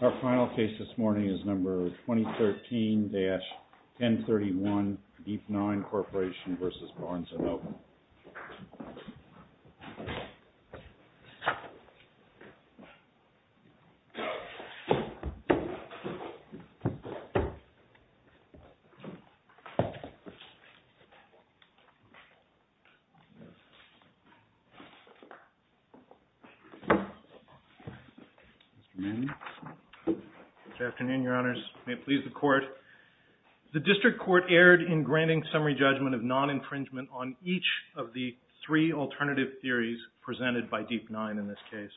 Our final case this morning is number 2013-1031, Deep Nine Corporation v. Barnes & Oakland. Good afternoon, Your Honors. The District Court erred in granting summary judgment of non-infringement on each of the three alternative theories presented by Deep Nine in this case.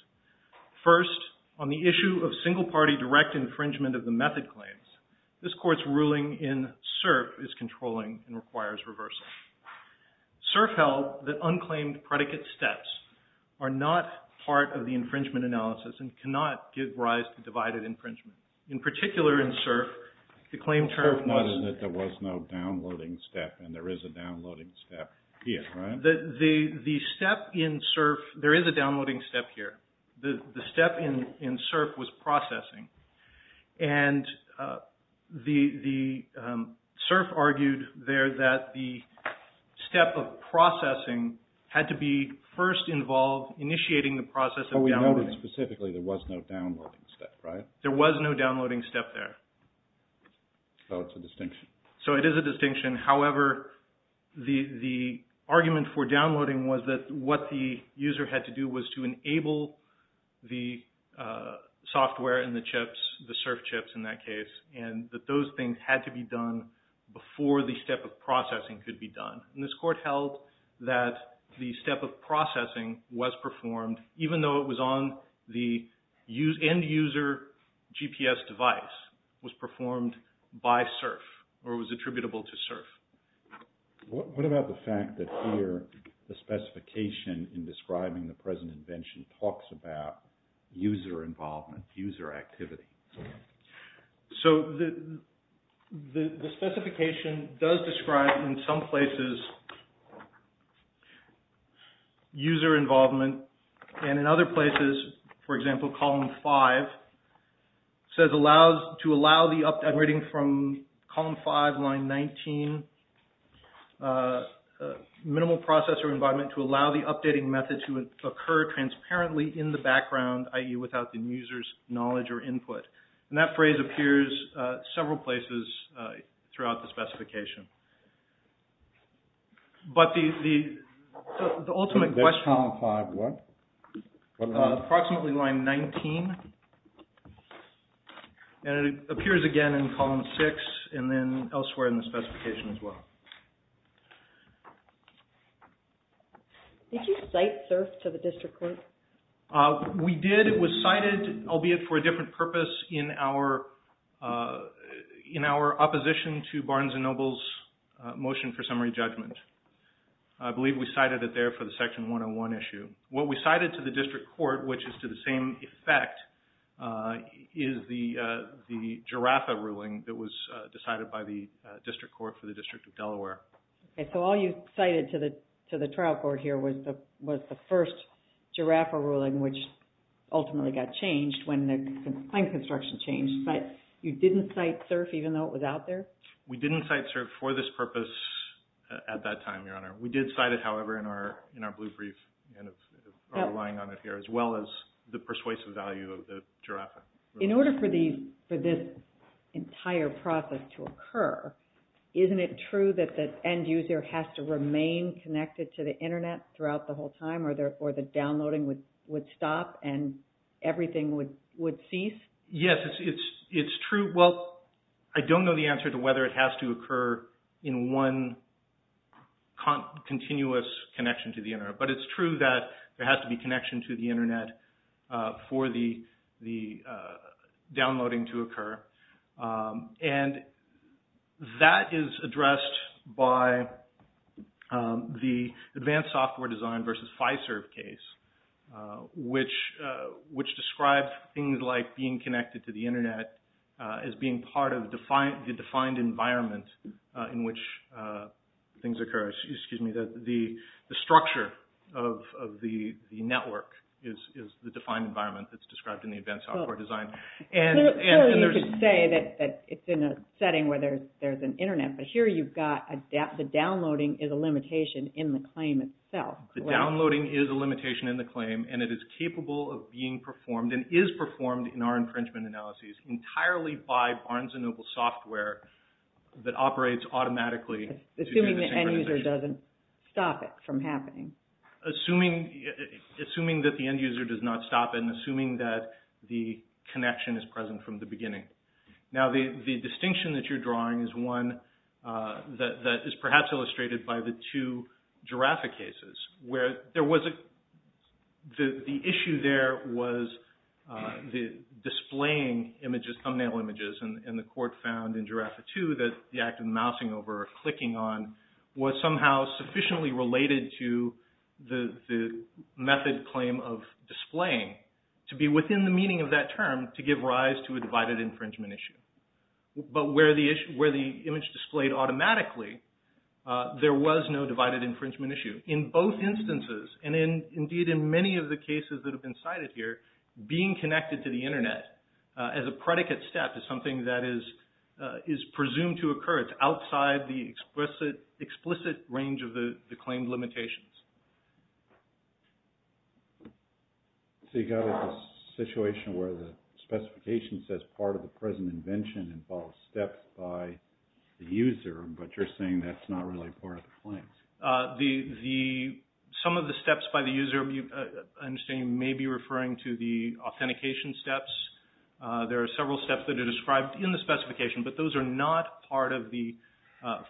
First, on the issue of single-party direct infringement of the method claims, this Court's ruling in SERP is controlling and requires reversal. SERP held that unclaimed predicate steps are not part of the infringement analysis and cannot give rise to divided infringement. In particular in SERP, the claim term was... SERP noted that there was no downloading step and there is a downloading step here, right? The step in SERP, there is a downloading step here. The step in SERP was processing. And the SERP argued there that the step of processing had to be first involved initiating the process of downloading. But we noted specifically there was no downloading step, right? There was no downloading step there. So it's a distinction. So it is a distinction. However, the argument for downloading was that what the user had to do was to enable the software and the chips, the SERP chips in that case, and that those things had to be done before the step of processing could be done. And this Court held that the step of processing was performed even though it was on the end-user GPS device, was performed by SERP or was attributable to SERP. What about the fact that here the specification in describing the present invention talks about user involvement, user activity? So the specification does describe in some places user involvement and in other places, for example, Column 5, says to allow the updating from Column 5, Line 19, minimal processor involvement to allow the updating method to occur transparently in the background, i.e. without the user's knowledge or input. And that phrase appears several places throughout the specification. But the ultimate question... What's in this Column 5? Approximately Line 19, and it appears again in Column 6 and then elsewhere in the specification as well. Did you cite SERP to the District Court? We did. It was cited, albeit for a different purpose, in our opposition to Barnes & Noble's motion for summary judgment. I believe we cited it there for the Section 101 issue. What we cited to the District Court, which is to the same effect, is the GIRAFFA ruling that was decided by the District Court for the District of Delaware. So all you cited to the trial court here was the first GIRAFFA ruling, which ultimately got changed when the claim construction changed, but you didn't cite SERP even though it was out there? We didn't cite SERP for this purpose at that time, Your Honor. We did cite it, however, in our blue brief, relying on it here, as well as the persuasive value of the GIRAFFA ruling. In order for this entire process to occur, isn't it true that the end user has to remain connected to the Internet throughout the whole time or the downloading would stop and everything would cease? Yes, it's true. Well, I don't know the answer to whether it has to occur in one continuous connection to the Internet, but it's true that there has to be connection to the Internet for the downloading to occur. And that is addressed by the advanced software design versus FISERP case, which describes things like being connected to the Internet as being part of the defined environment in which things occur. Excuse me, the structure of the network is the defined environment that's described in the advanced software design. Sure, you could say that it's in a setting where there's an Internet, but here you've got the downloading is a limitation in the claim itself. The downloading is a limitation in the claim and it is capable of being performed and is performed in our infringement analyses entirely by Barnes & Noble software that operates automatically to do the synchronization. Assuming that the end user does not stop and assuming that the connection is present from the beginning. Now, the distinction that you're drawing is one that is perhaps illustrated by the two GIRAFFA cases where the issue there was the displaying thumbnail images and the court found in GIRAFFA 2 that the act of mousing over or clicking on was somehow sufficiently related to the method claim of displaying to be within the meaning of that term to give rise to a divided infringement issue. But where the image displayed automatically, there was no divided infringement issue. In both instances and indeed in many of the cases that have been cited here, being connected to the Internet as a predicate step is something that is presumed to occur. It's outside the explicit range of the claimed limitations. So you got a situation where the specification says part of the present invention involves steps by the user, but you're saying that's not really part of the claims. Some of the steps by the user, I understand you may be referring to the authentication steps. There are several steps that are described in the specification, but those are not part of the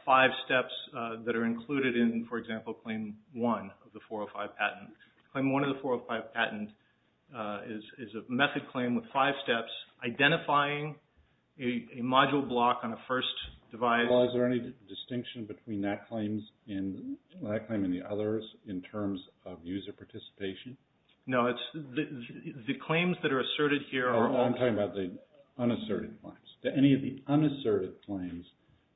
five steps that are included in, for example, Claim 1 of the 405 patent. Claim 1 of the 405 patent is a method claim with five steps identifying a module block on a first device. Well, is there any distinction between that claim and the others in terms of user participation? No, the claims that are asserted here are all... I'm talking about the unasserted claims. Do any of the unasserted claims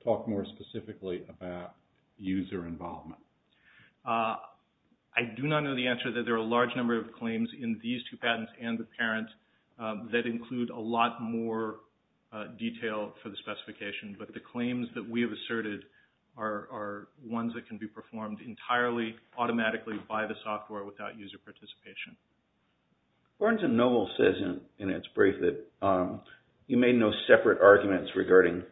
talk more specifically about user involvement? I do not know the answer to that. There are a large number of claims in these two patents and the parent that include a lot more detail for the specification. But the claims that we have asserted are ones that can be performed entirely automatically by the software without user participation. Barnes & Noble says in its brief that you made no separate arguments regarding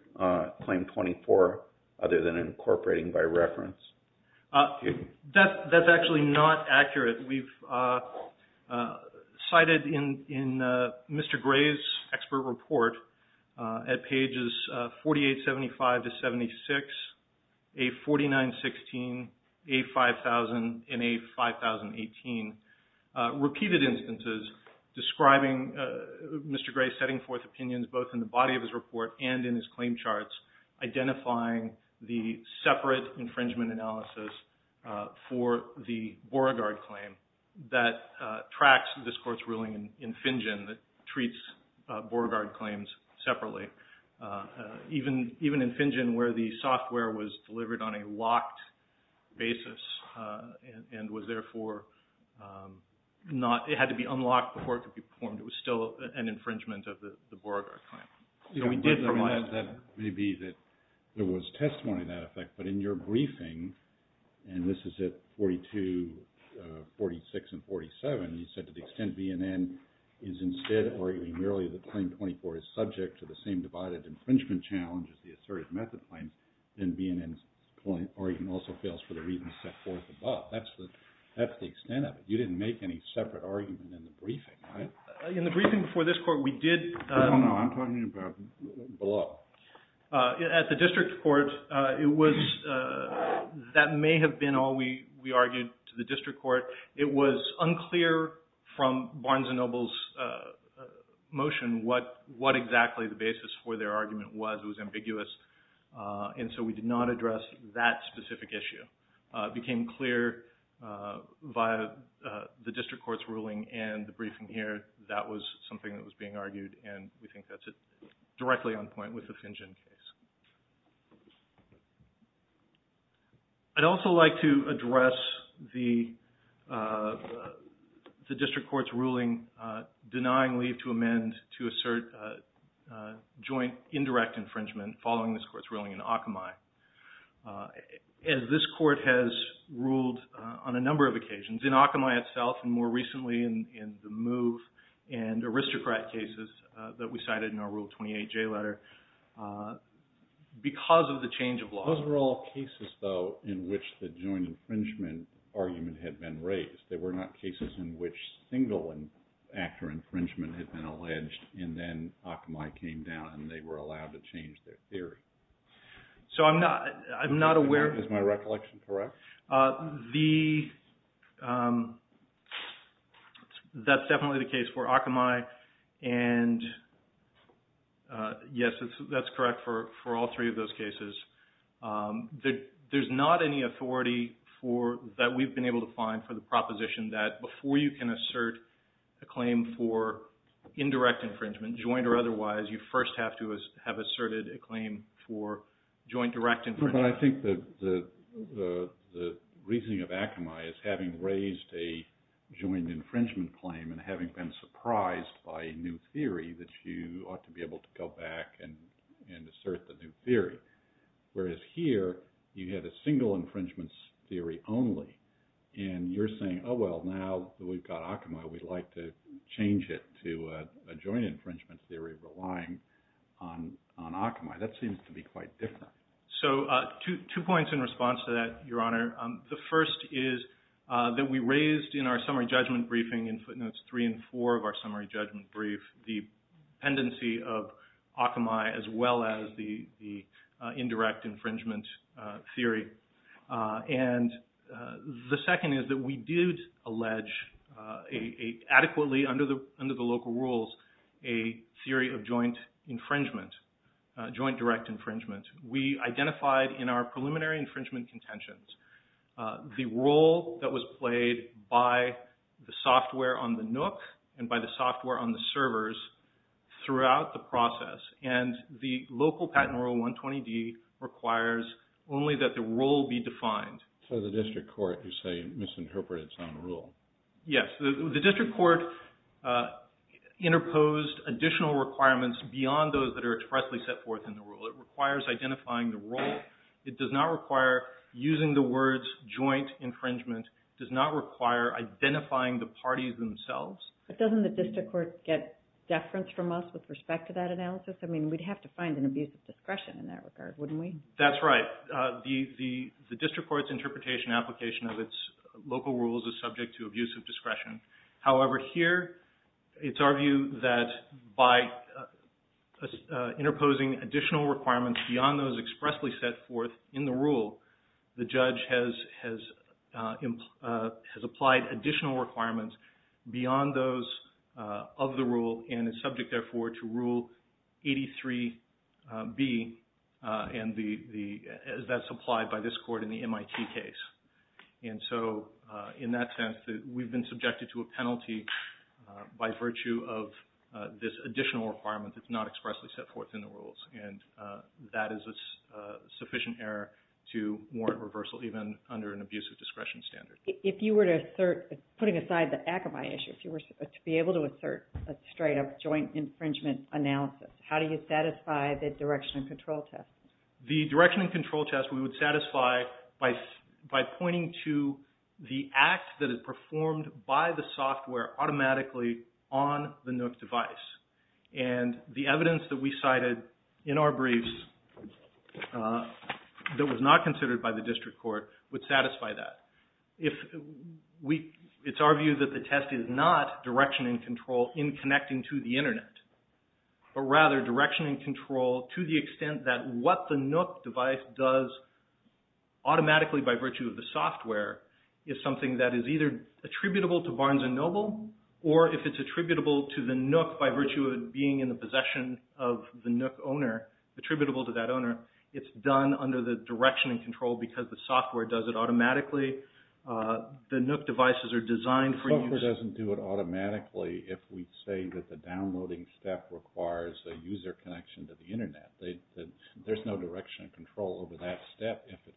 Claim 24 other than incorporating by reference. That's actually not accurate. We've cited in Mr. Gray's expert report at pages 4875-76, A4916, A5000, and A5018, repeated instances describing Mr. Gray's setting forth opinions both in the body of his report and in his claim charts identifying the separate infringement analysis for the Beauregard claim that tracks this court's ruling in Finjen that treats Beauregard claims separately. Even in Finjen where the software was delivered on a locked basis and was therefore not... it had to be unlocked before it could be performed. It was still an infringement of the Beauregard claim. That may be that there was testimony to that effect. But in your briefing, and this is at 42, 46, and 47, you said to the extent BNN is instead arguing merely that Claim 24 is subject to the same divided infringement challenge as the asserted method claim, then BNN's argument also fails for the reasons set forth above. That's the extent of it. You didn't make any separate argument in the briefing, right? In the briefing before this court, we did... No, no, I'm talking about below. At the district court, it was... that may have been all we argued to the district court. It was unclear from Barnes & Noble's motion what exactly the basis for their argument was. It was ambiguous, and so we did not address that specific issue. It became clear via the district court's ruling and the briefing here that was something that was being argued, and we think that's directly on point with the Finjen case. I'd also like to address the district court's ruling denying leave to amend to assert joint indirect infringement following this court's ruling in Akamai. As this court has ruled on a number of occasions, in Akamai itself and more recently in the Move and Aristocrat cases that we cited in our Rule 28J letter, because of the change of law... Those were all cases, though, in which the joint infringement argument had been raised. They were not cases in which single-actor infringement had been alleged, and then Akamai came down and they were allowed to change their theory. So I'm not aware... Is my recollection correct? That's definitely the case for Akamai, and yes, that's correct for all three of those cases. There's not any authority that we've been able to find for the proposition that before you can assert a claim for indirect infringement, joint or otherwise, you first have to have asserted a claim for joint direct infringement. But I think the reasoning of Akamai is having raised a joint infringement claim and having been surprised by a new theory that you ought to be able to go back and assert the new theory. Whereas here, you had a single infringement theory only, and you're saying, oh, well, now that we've got Akamai, we'd like to change it to a joint infringement theory relying on Akamai. That seems to be quite different. So two points in response to that, Your Honor. The first is that we raised in our summary judgment briefing in footnotes three and four of our summary judgment brief the pendency of Akamai as well as the indirect infringement theory. And the second is that we did allege adequately under the local rules a theory of joint infringement, joint direct infringement. We identified in our preliminary infringement contentions the role that was played by the software on the NOOC and by the software on the servers throughout the process. And the local patent rule 120D requires only that the role be defined. So the district court, you say, misinterpreted its own rule. Yes. The district court interposed additional requirements beyond those that are expressly set forth in the rule. It requires identifying the role. It does not require using the words joint infringement. It does not require identifying the parties themselves. But doesn't the district court get deference from us with respect to that analysis? I mean, we'd have to find an abuse of discretion in that regard, wouldn't we? That's right. The district court's interpretation application of its local rules is subject to abuse of discretion. However, here it's our view that by interposing additional requirements beyond those expressly set forth in the rule, the judge has applied additional requirements beyond those of the rule and is subject, therefore, to Rule 83B as that's applied by this court in the MIT case. And so in that sense, we've been subjected to a penalty by virtue of this additional requirement that's not expressly set forth in the rules. And that is a sufficient error to warrant reversal, even under an abuse of discretion standard. If you were to assert, putting aside the Akamai issue, if you were to be able to assert a straight up joint infringement analysis, how do you satisfy the direction and control test? The direction and control test we would satisfy by pointing to the act that is performed by the software automatically on the NOOC device. And the evidence that we cited in our briefs that was not considered by the district court would satisfy that. It's our view that the test is not direction and control in connecting to the internet, but rather direction and control to the extent that what the NOOC device does automatically by virtue of the software is something that is either attributable to Barnes & Noble or if it's attributable to the NOOC by virtue of it being in the possession of the NOOC owner, attributable to that owner, it's done under the direction and control because the software does it automatically. The NOOC devices are designed for use... Software doesn't do it automatically if we say that the downloading step requires a user connection to the internet. There's no direction and control over that step if it,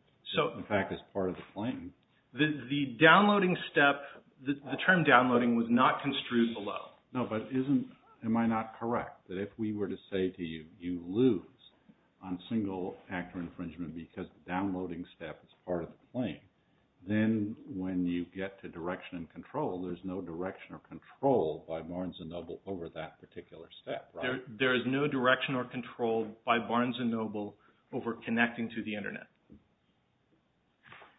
in fact, is part of the claim. The downloading step, the term downloading was not construed below. No, but isn't, am I not correct that if we were to say to you, you lose on single-factor infringement because downloading step is part of the claim, then when you get to direction and control, there's no direction or control by Barnes & Noble over that particular step, right? There is no direction or control by Barnes & Noble over connecting to the internet.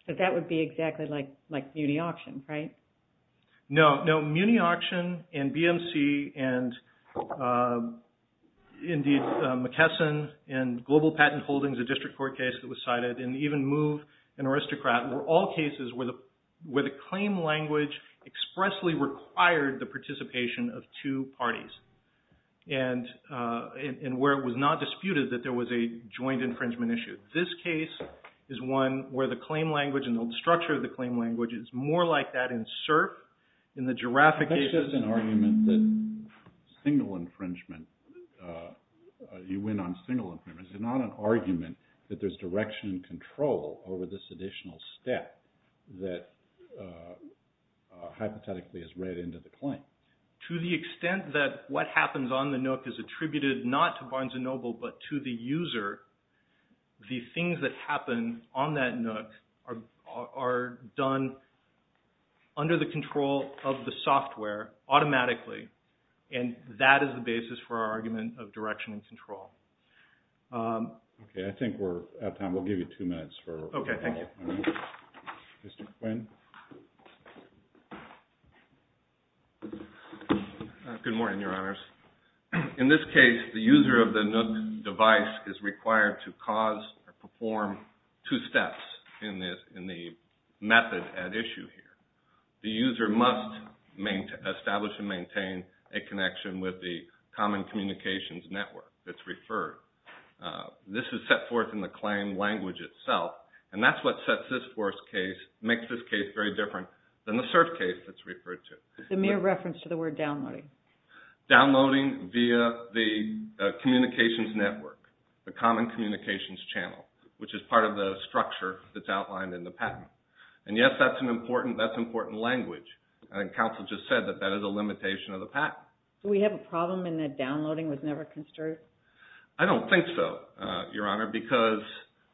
But that would be exactly like muni-auctions, right? No, muni-auction and BMC and indeed McKesson and Global Patent Holdings, a district court case that was cited, and even MOVE and Aristocrat were all cases where the claim language expressly required the participation of two parties and where it was not disputed that there was a joint infringement issue. This case is one where the claim language and the structure of the claim language is more like that in CERP, in the giraffe case. That's just an argument that single infringement, you win on single infringement. It's not an argument that there's direction and control over this additional step that hypothetically is read into the claim. To the extent that what happens on the nook is attributed not to Barnes & Noble but to the user, the things that happen on that nook are done under the control of the software automatically and that is the basis for our argument of direction and control. Okay, I think we're out of time. We'll give you two minutes. Okay, thank you. Mr. Quinn. Good morning, Your Honors. In this case, the user of the nook device is required to cause or perform two steps in the method at issue here. The user must establish and maintain a connection with the common communications network that's referred. This is set forth in the claim language itself and that's what makes this case very different than the CERP case that's referred to. The mere reference to the word downloading. Downloading via the communications network, the common communications channel, which is part of the structure that's outlined in the patent. And yes, that's an important language. I think counsel just said that that is a limitation of the patent. Do we have a problem in that downloading was never considered? I don't think so, Your Honor, because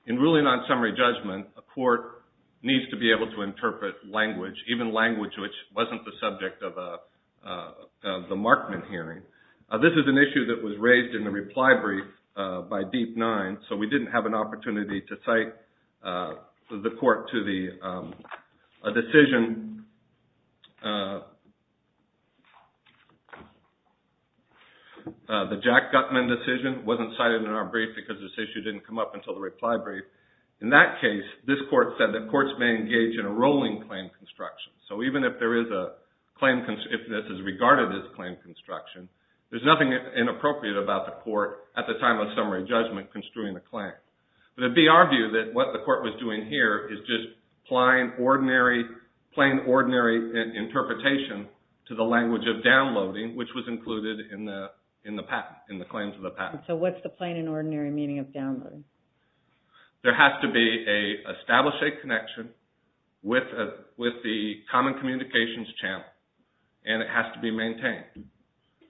in ruling on summary judgment, a court needs to be able to interpret language, even language which wasn't the subject of the Markman hearing. This is an issue that was raised in the reply brief by Deep Nine, so we didn't have an opportunity to cite the court to a decision. The Jack Gutman decision wasn't cited in our brief because this issue didn't come up until the reply brief. In that case, this court said that courts may engage in a rolling claim construction. So even if this is regarded as claim construction, there's nothing inappropriate about the court at the time of summary judgment construing the claim. But it would be argued that what the court was doing here is just plain ordinary interpretation to the language of downloading, which was included in the claims of the patent. So what's the plain and ordinary meaning of downloading? There has to be an established connection with the common communications channel, and it has to be maintained.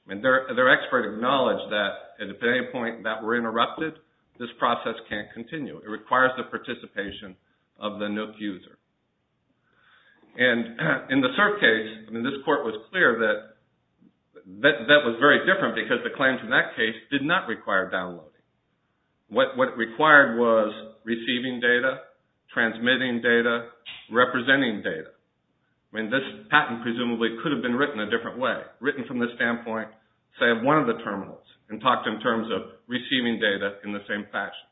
And their expert acknowledged that at any point that we're interrupted, this process can't continue. It requires the participation of the NOOC user. And in the CERF case, this court was clear that that was very different because the claims in that case did not require downloading. What required was receiving data, transmitting data, representing data. I mean, this patent presumably could have been written a different way, written from the standpoint, say, of one of the terminals and talked in terms of receiving data in the same fashion.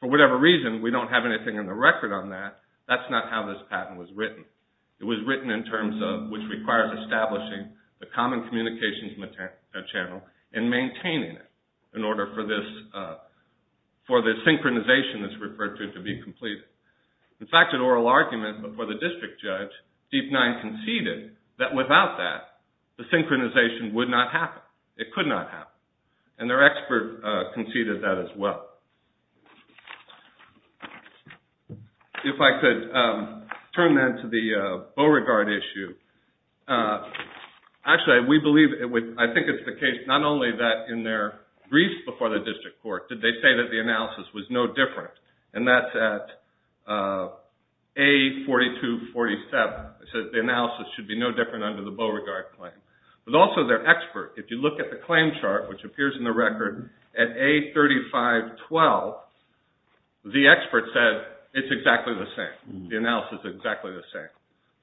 For whatever reason, we don't have anything in the record on that. That's not how this patent was written. It was written in terms of which requires establishing the common communications channel and maintaining it in order for the synchronization that's referred to to be completed. In fact, an oral argument before the district judge, Deep Nine conceded that without that, the synchronization would not happen. It could not happen. And their expert conceded that as well. If I could turn then to the Beauregard issue. Actually, we believe it would – I think it's the case not only that in their briefs before the district court, did they say that the analysis was no different, and that's at A4247. It says the analysis should be no different under the Beauregard claim. But also their expert, if you look at the claim chart, which appears in the record at A3512, the expert said it's exactly the same. The analysis is exactly the same.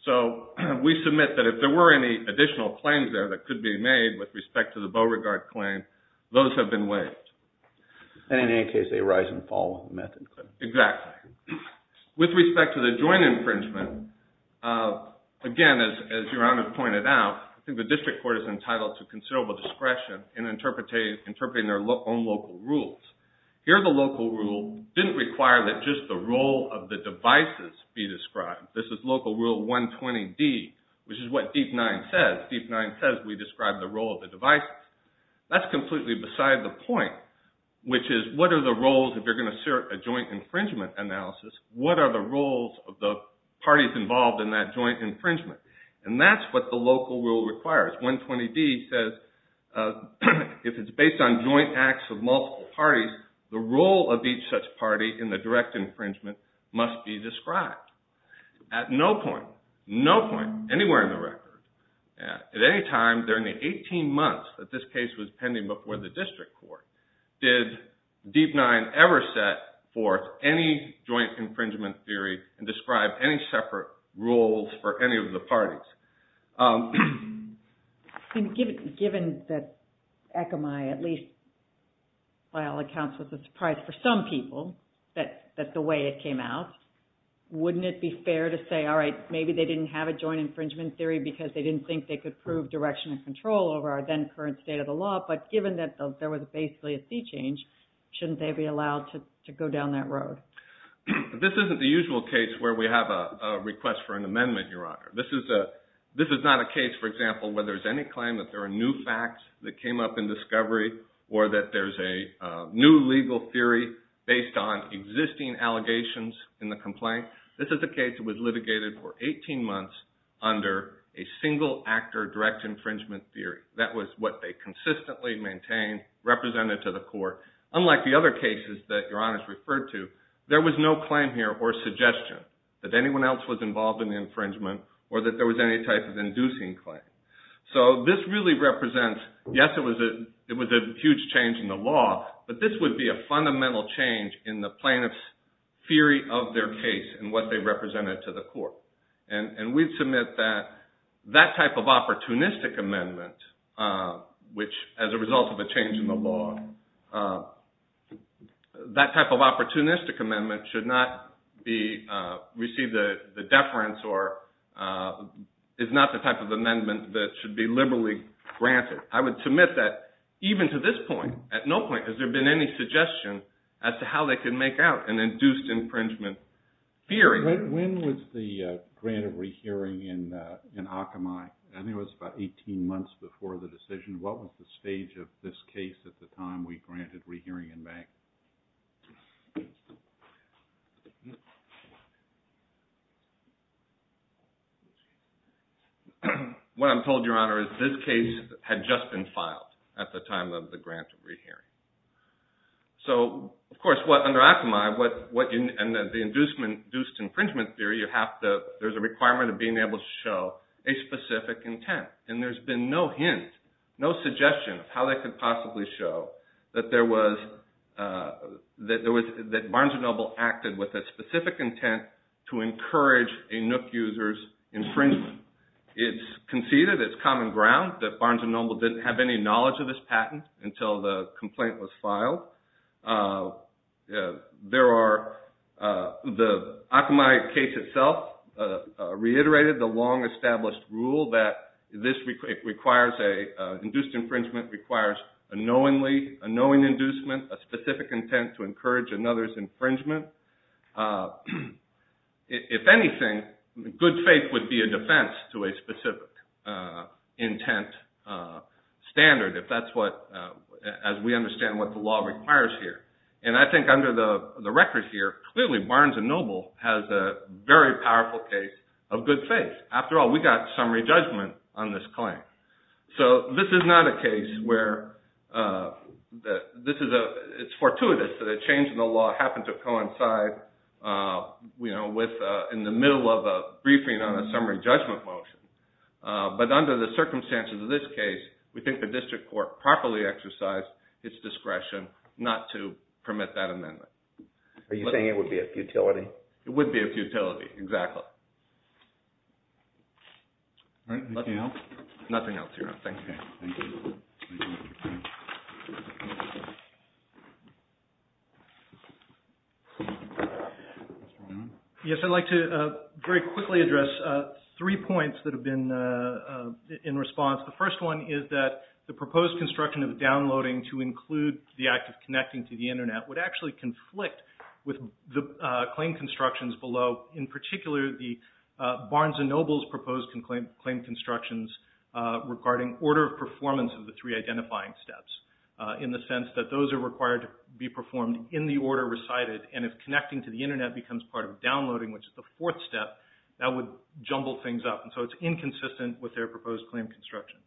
So we submit that if there were any additional claims there that could be made with respect to the Beauregard claim, those have been waived. And in any case, they rise and fall method. Exactly. With respect to the joint infringement, again, as Your Honor pointed out, I think the district court is entitled to considerable discretion in interpreting their own local rules. Here the local rule didn't require that just the role of the devices be described. This is local rule 120D, which is what DEEP-9 says. DEEP-9 says we describe the role of the devices. That's completely beside the point, which is what are the roles, if you're going to assert a joint infringement analysis, what are the roles of the parties involved in that joint infringement? And that's what the local rule requires. 120D says if it's based on joint acts of multiple parties, the role of each such party in the direct infringement must be described. At no point, no point anywhere in the record, at any time during the 18 months that this case was pending before the district court, did DEEP-9 ever set forth any joint infringement theory and describe any separate rules for any of the parties. Given that ECMI, at least by all accounts, was a surprise for some people, that's the way it came out, wouldn't it be fair to say, all right, maybe they didn't have a joint infringement theory because they didn't think they could prove direction and control over our then current state of the law, but given that there was basically a sea change, shouldn't they be allowed to go down that road? This isn't the usual case where we have a request for an amendment, Your Honor. This is not a case, for example, where there's any claim that there are new facts that came up in discovery or that there's a new legal theory based on existing allegations in the complaint. This is a case that was litigated for 18 months under a single-actor direct infringement theory. That was what they consistently maintained, represented to the court. Unlike the other cases that Your Honor has referred to, there was no claim here or suggestion that anyone else was involved in the infringement or that there was any type of inducing claim. So this really represents, yes, it was a huge change in the law, but this would be a fundamental change in the plaintiff's theory of their case and what they represented to the court. And we submit that that type of opportunistic amendment, which as a result of a change in the law, that type of opportunistic amendment should not receive the deference or is not the type of amendment that should be liberally granted. I would submit that even to this point, at no point, has there been any suggestion as to how they could make out an induced infringement theory. When was the grant of rehearing in Akamai? I think it was about 18 months before the decision. What was the stage of this case at the time we granted rehearing in bank? What I'm told, Your Honor, is this case had just been filed at the time of the grant of rehearing. So, of course, what under Akamai, and the induced infringement theory, there's a requirement of being able to show a specific intent, and there's been no hint, no suggestion of how they could possibly show that Barnes & Noble acted with a specific intent to encourage a NOOC user's infringement. It's conceded, it's common ground, that Barnes & Noble didn't have any knowledge of this patent until the complaint was filed. The Akamai case itself reiterated the long-established rule that induced infringement requires a knowingly, a knowing inducement, a specific intent to encourage another's infringement. If anything, good faith would be a defense to a specific intent standard, as we understand what the law requires here. And I think under the record here, clearly Barnes & Noble has a very powerful case of good faith. After all, we got summary judgment on this claim. So this is not a case where it's fortuitous that a change in the law happened to coincide in the middle of a briefing on a summary judgment motion. But under the circumstances of this case, we think the district court properly exercised its discretion not to permit that amendment. Are you saying it would be a futility? It would be a futility, exactly. Nothing else? Nothing else, Your Honor. Thank you. Yes, I'd like to very quickly address three points that have been in response. The first one is that the proposed construction of downloading to include the act of connecting to the Internet would actually conflict with the claim constructions below. In particular, the Barnes & Noble's proposed claim constructions regarding order of performance of the three identifying steps in the sense that those are required to be performed in the order recited and if connecting to the Internet becomes part of downloading, which is the fourth step, that would jumble things up. And so it's inconsistent with their proposed claim construction.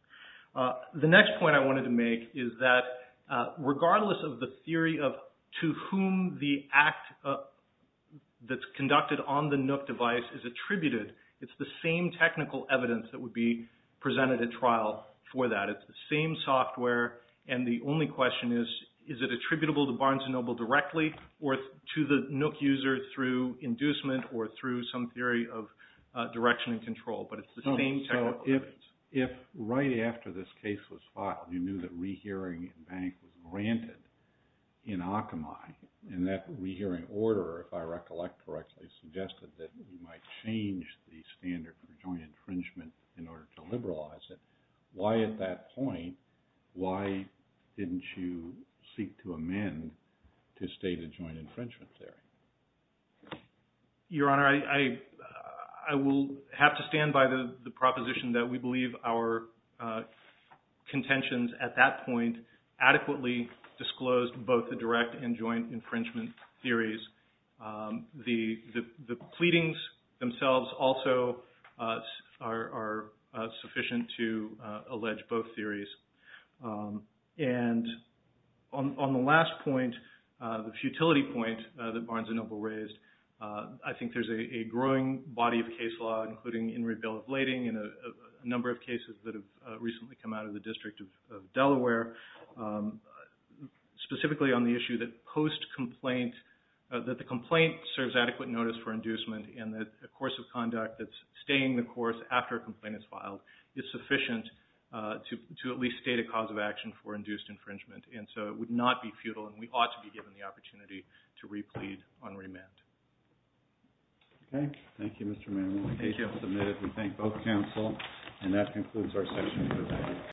The next point I wanted to make is that regardless of the theory of to whom the act that's conducted on the NOOC device is attributed, it's the same technical evidence that would be presented at trial for that. It's the same software, and the only question is, is it attributable to Barnes & Noble directly or to the NOOC user through inducement or through some theory of direction and control, but it's the same technical evidence. If right after this case was filed, you knew that rehearing in bank was granted in Akamai, and that rehearing order, if I recollect correctly, suggested that you might change the standard for joint infringement in order to liberalize it. Why at that point, why didn't you seek to amend to state a joint infringement theory? Your Honor, I will have to stand by the proposition that we believe our contentions at that point adequately disclosed both the direct and joint infringement theories. The pleadings themselves also are sufficient to allege both theories. And on the last point, the futility point that Barnes & Noble raised, I think there's a growing body of case law, including In re Bill of Lading and a number of cases that have recently come out of the District of Delaware, specifically on the issue that post-complaint, that the complaint serves adequate notice for inducement and that a course of conduct that's staying the course after a complaint is filed is sufficient to at least state a cause of action for induced infringement. And so it would not be futile, and we ought to be given the opportunity to replead on remand. Okay. Thank you, Mr. Manuel. Thank you. I'll admit it. We thank both counsel. And that concludes our session.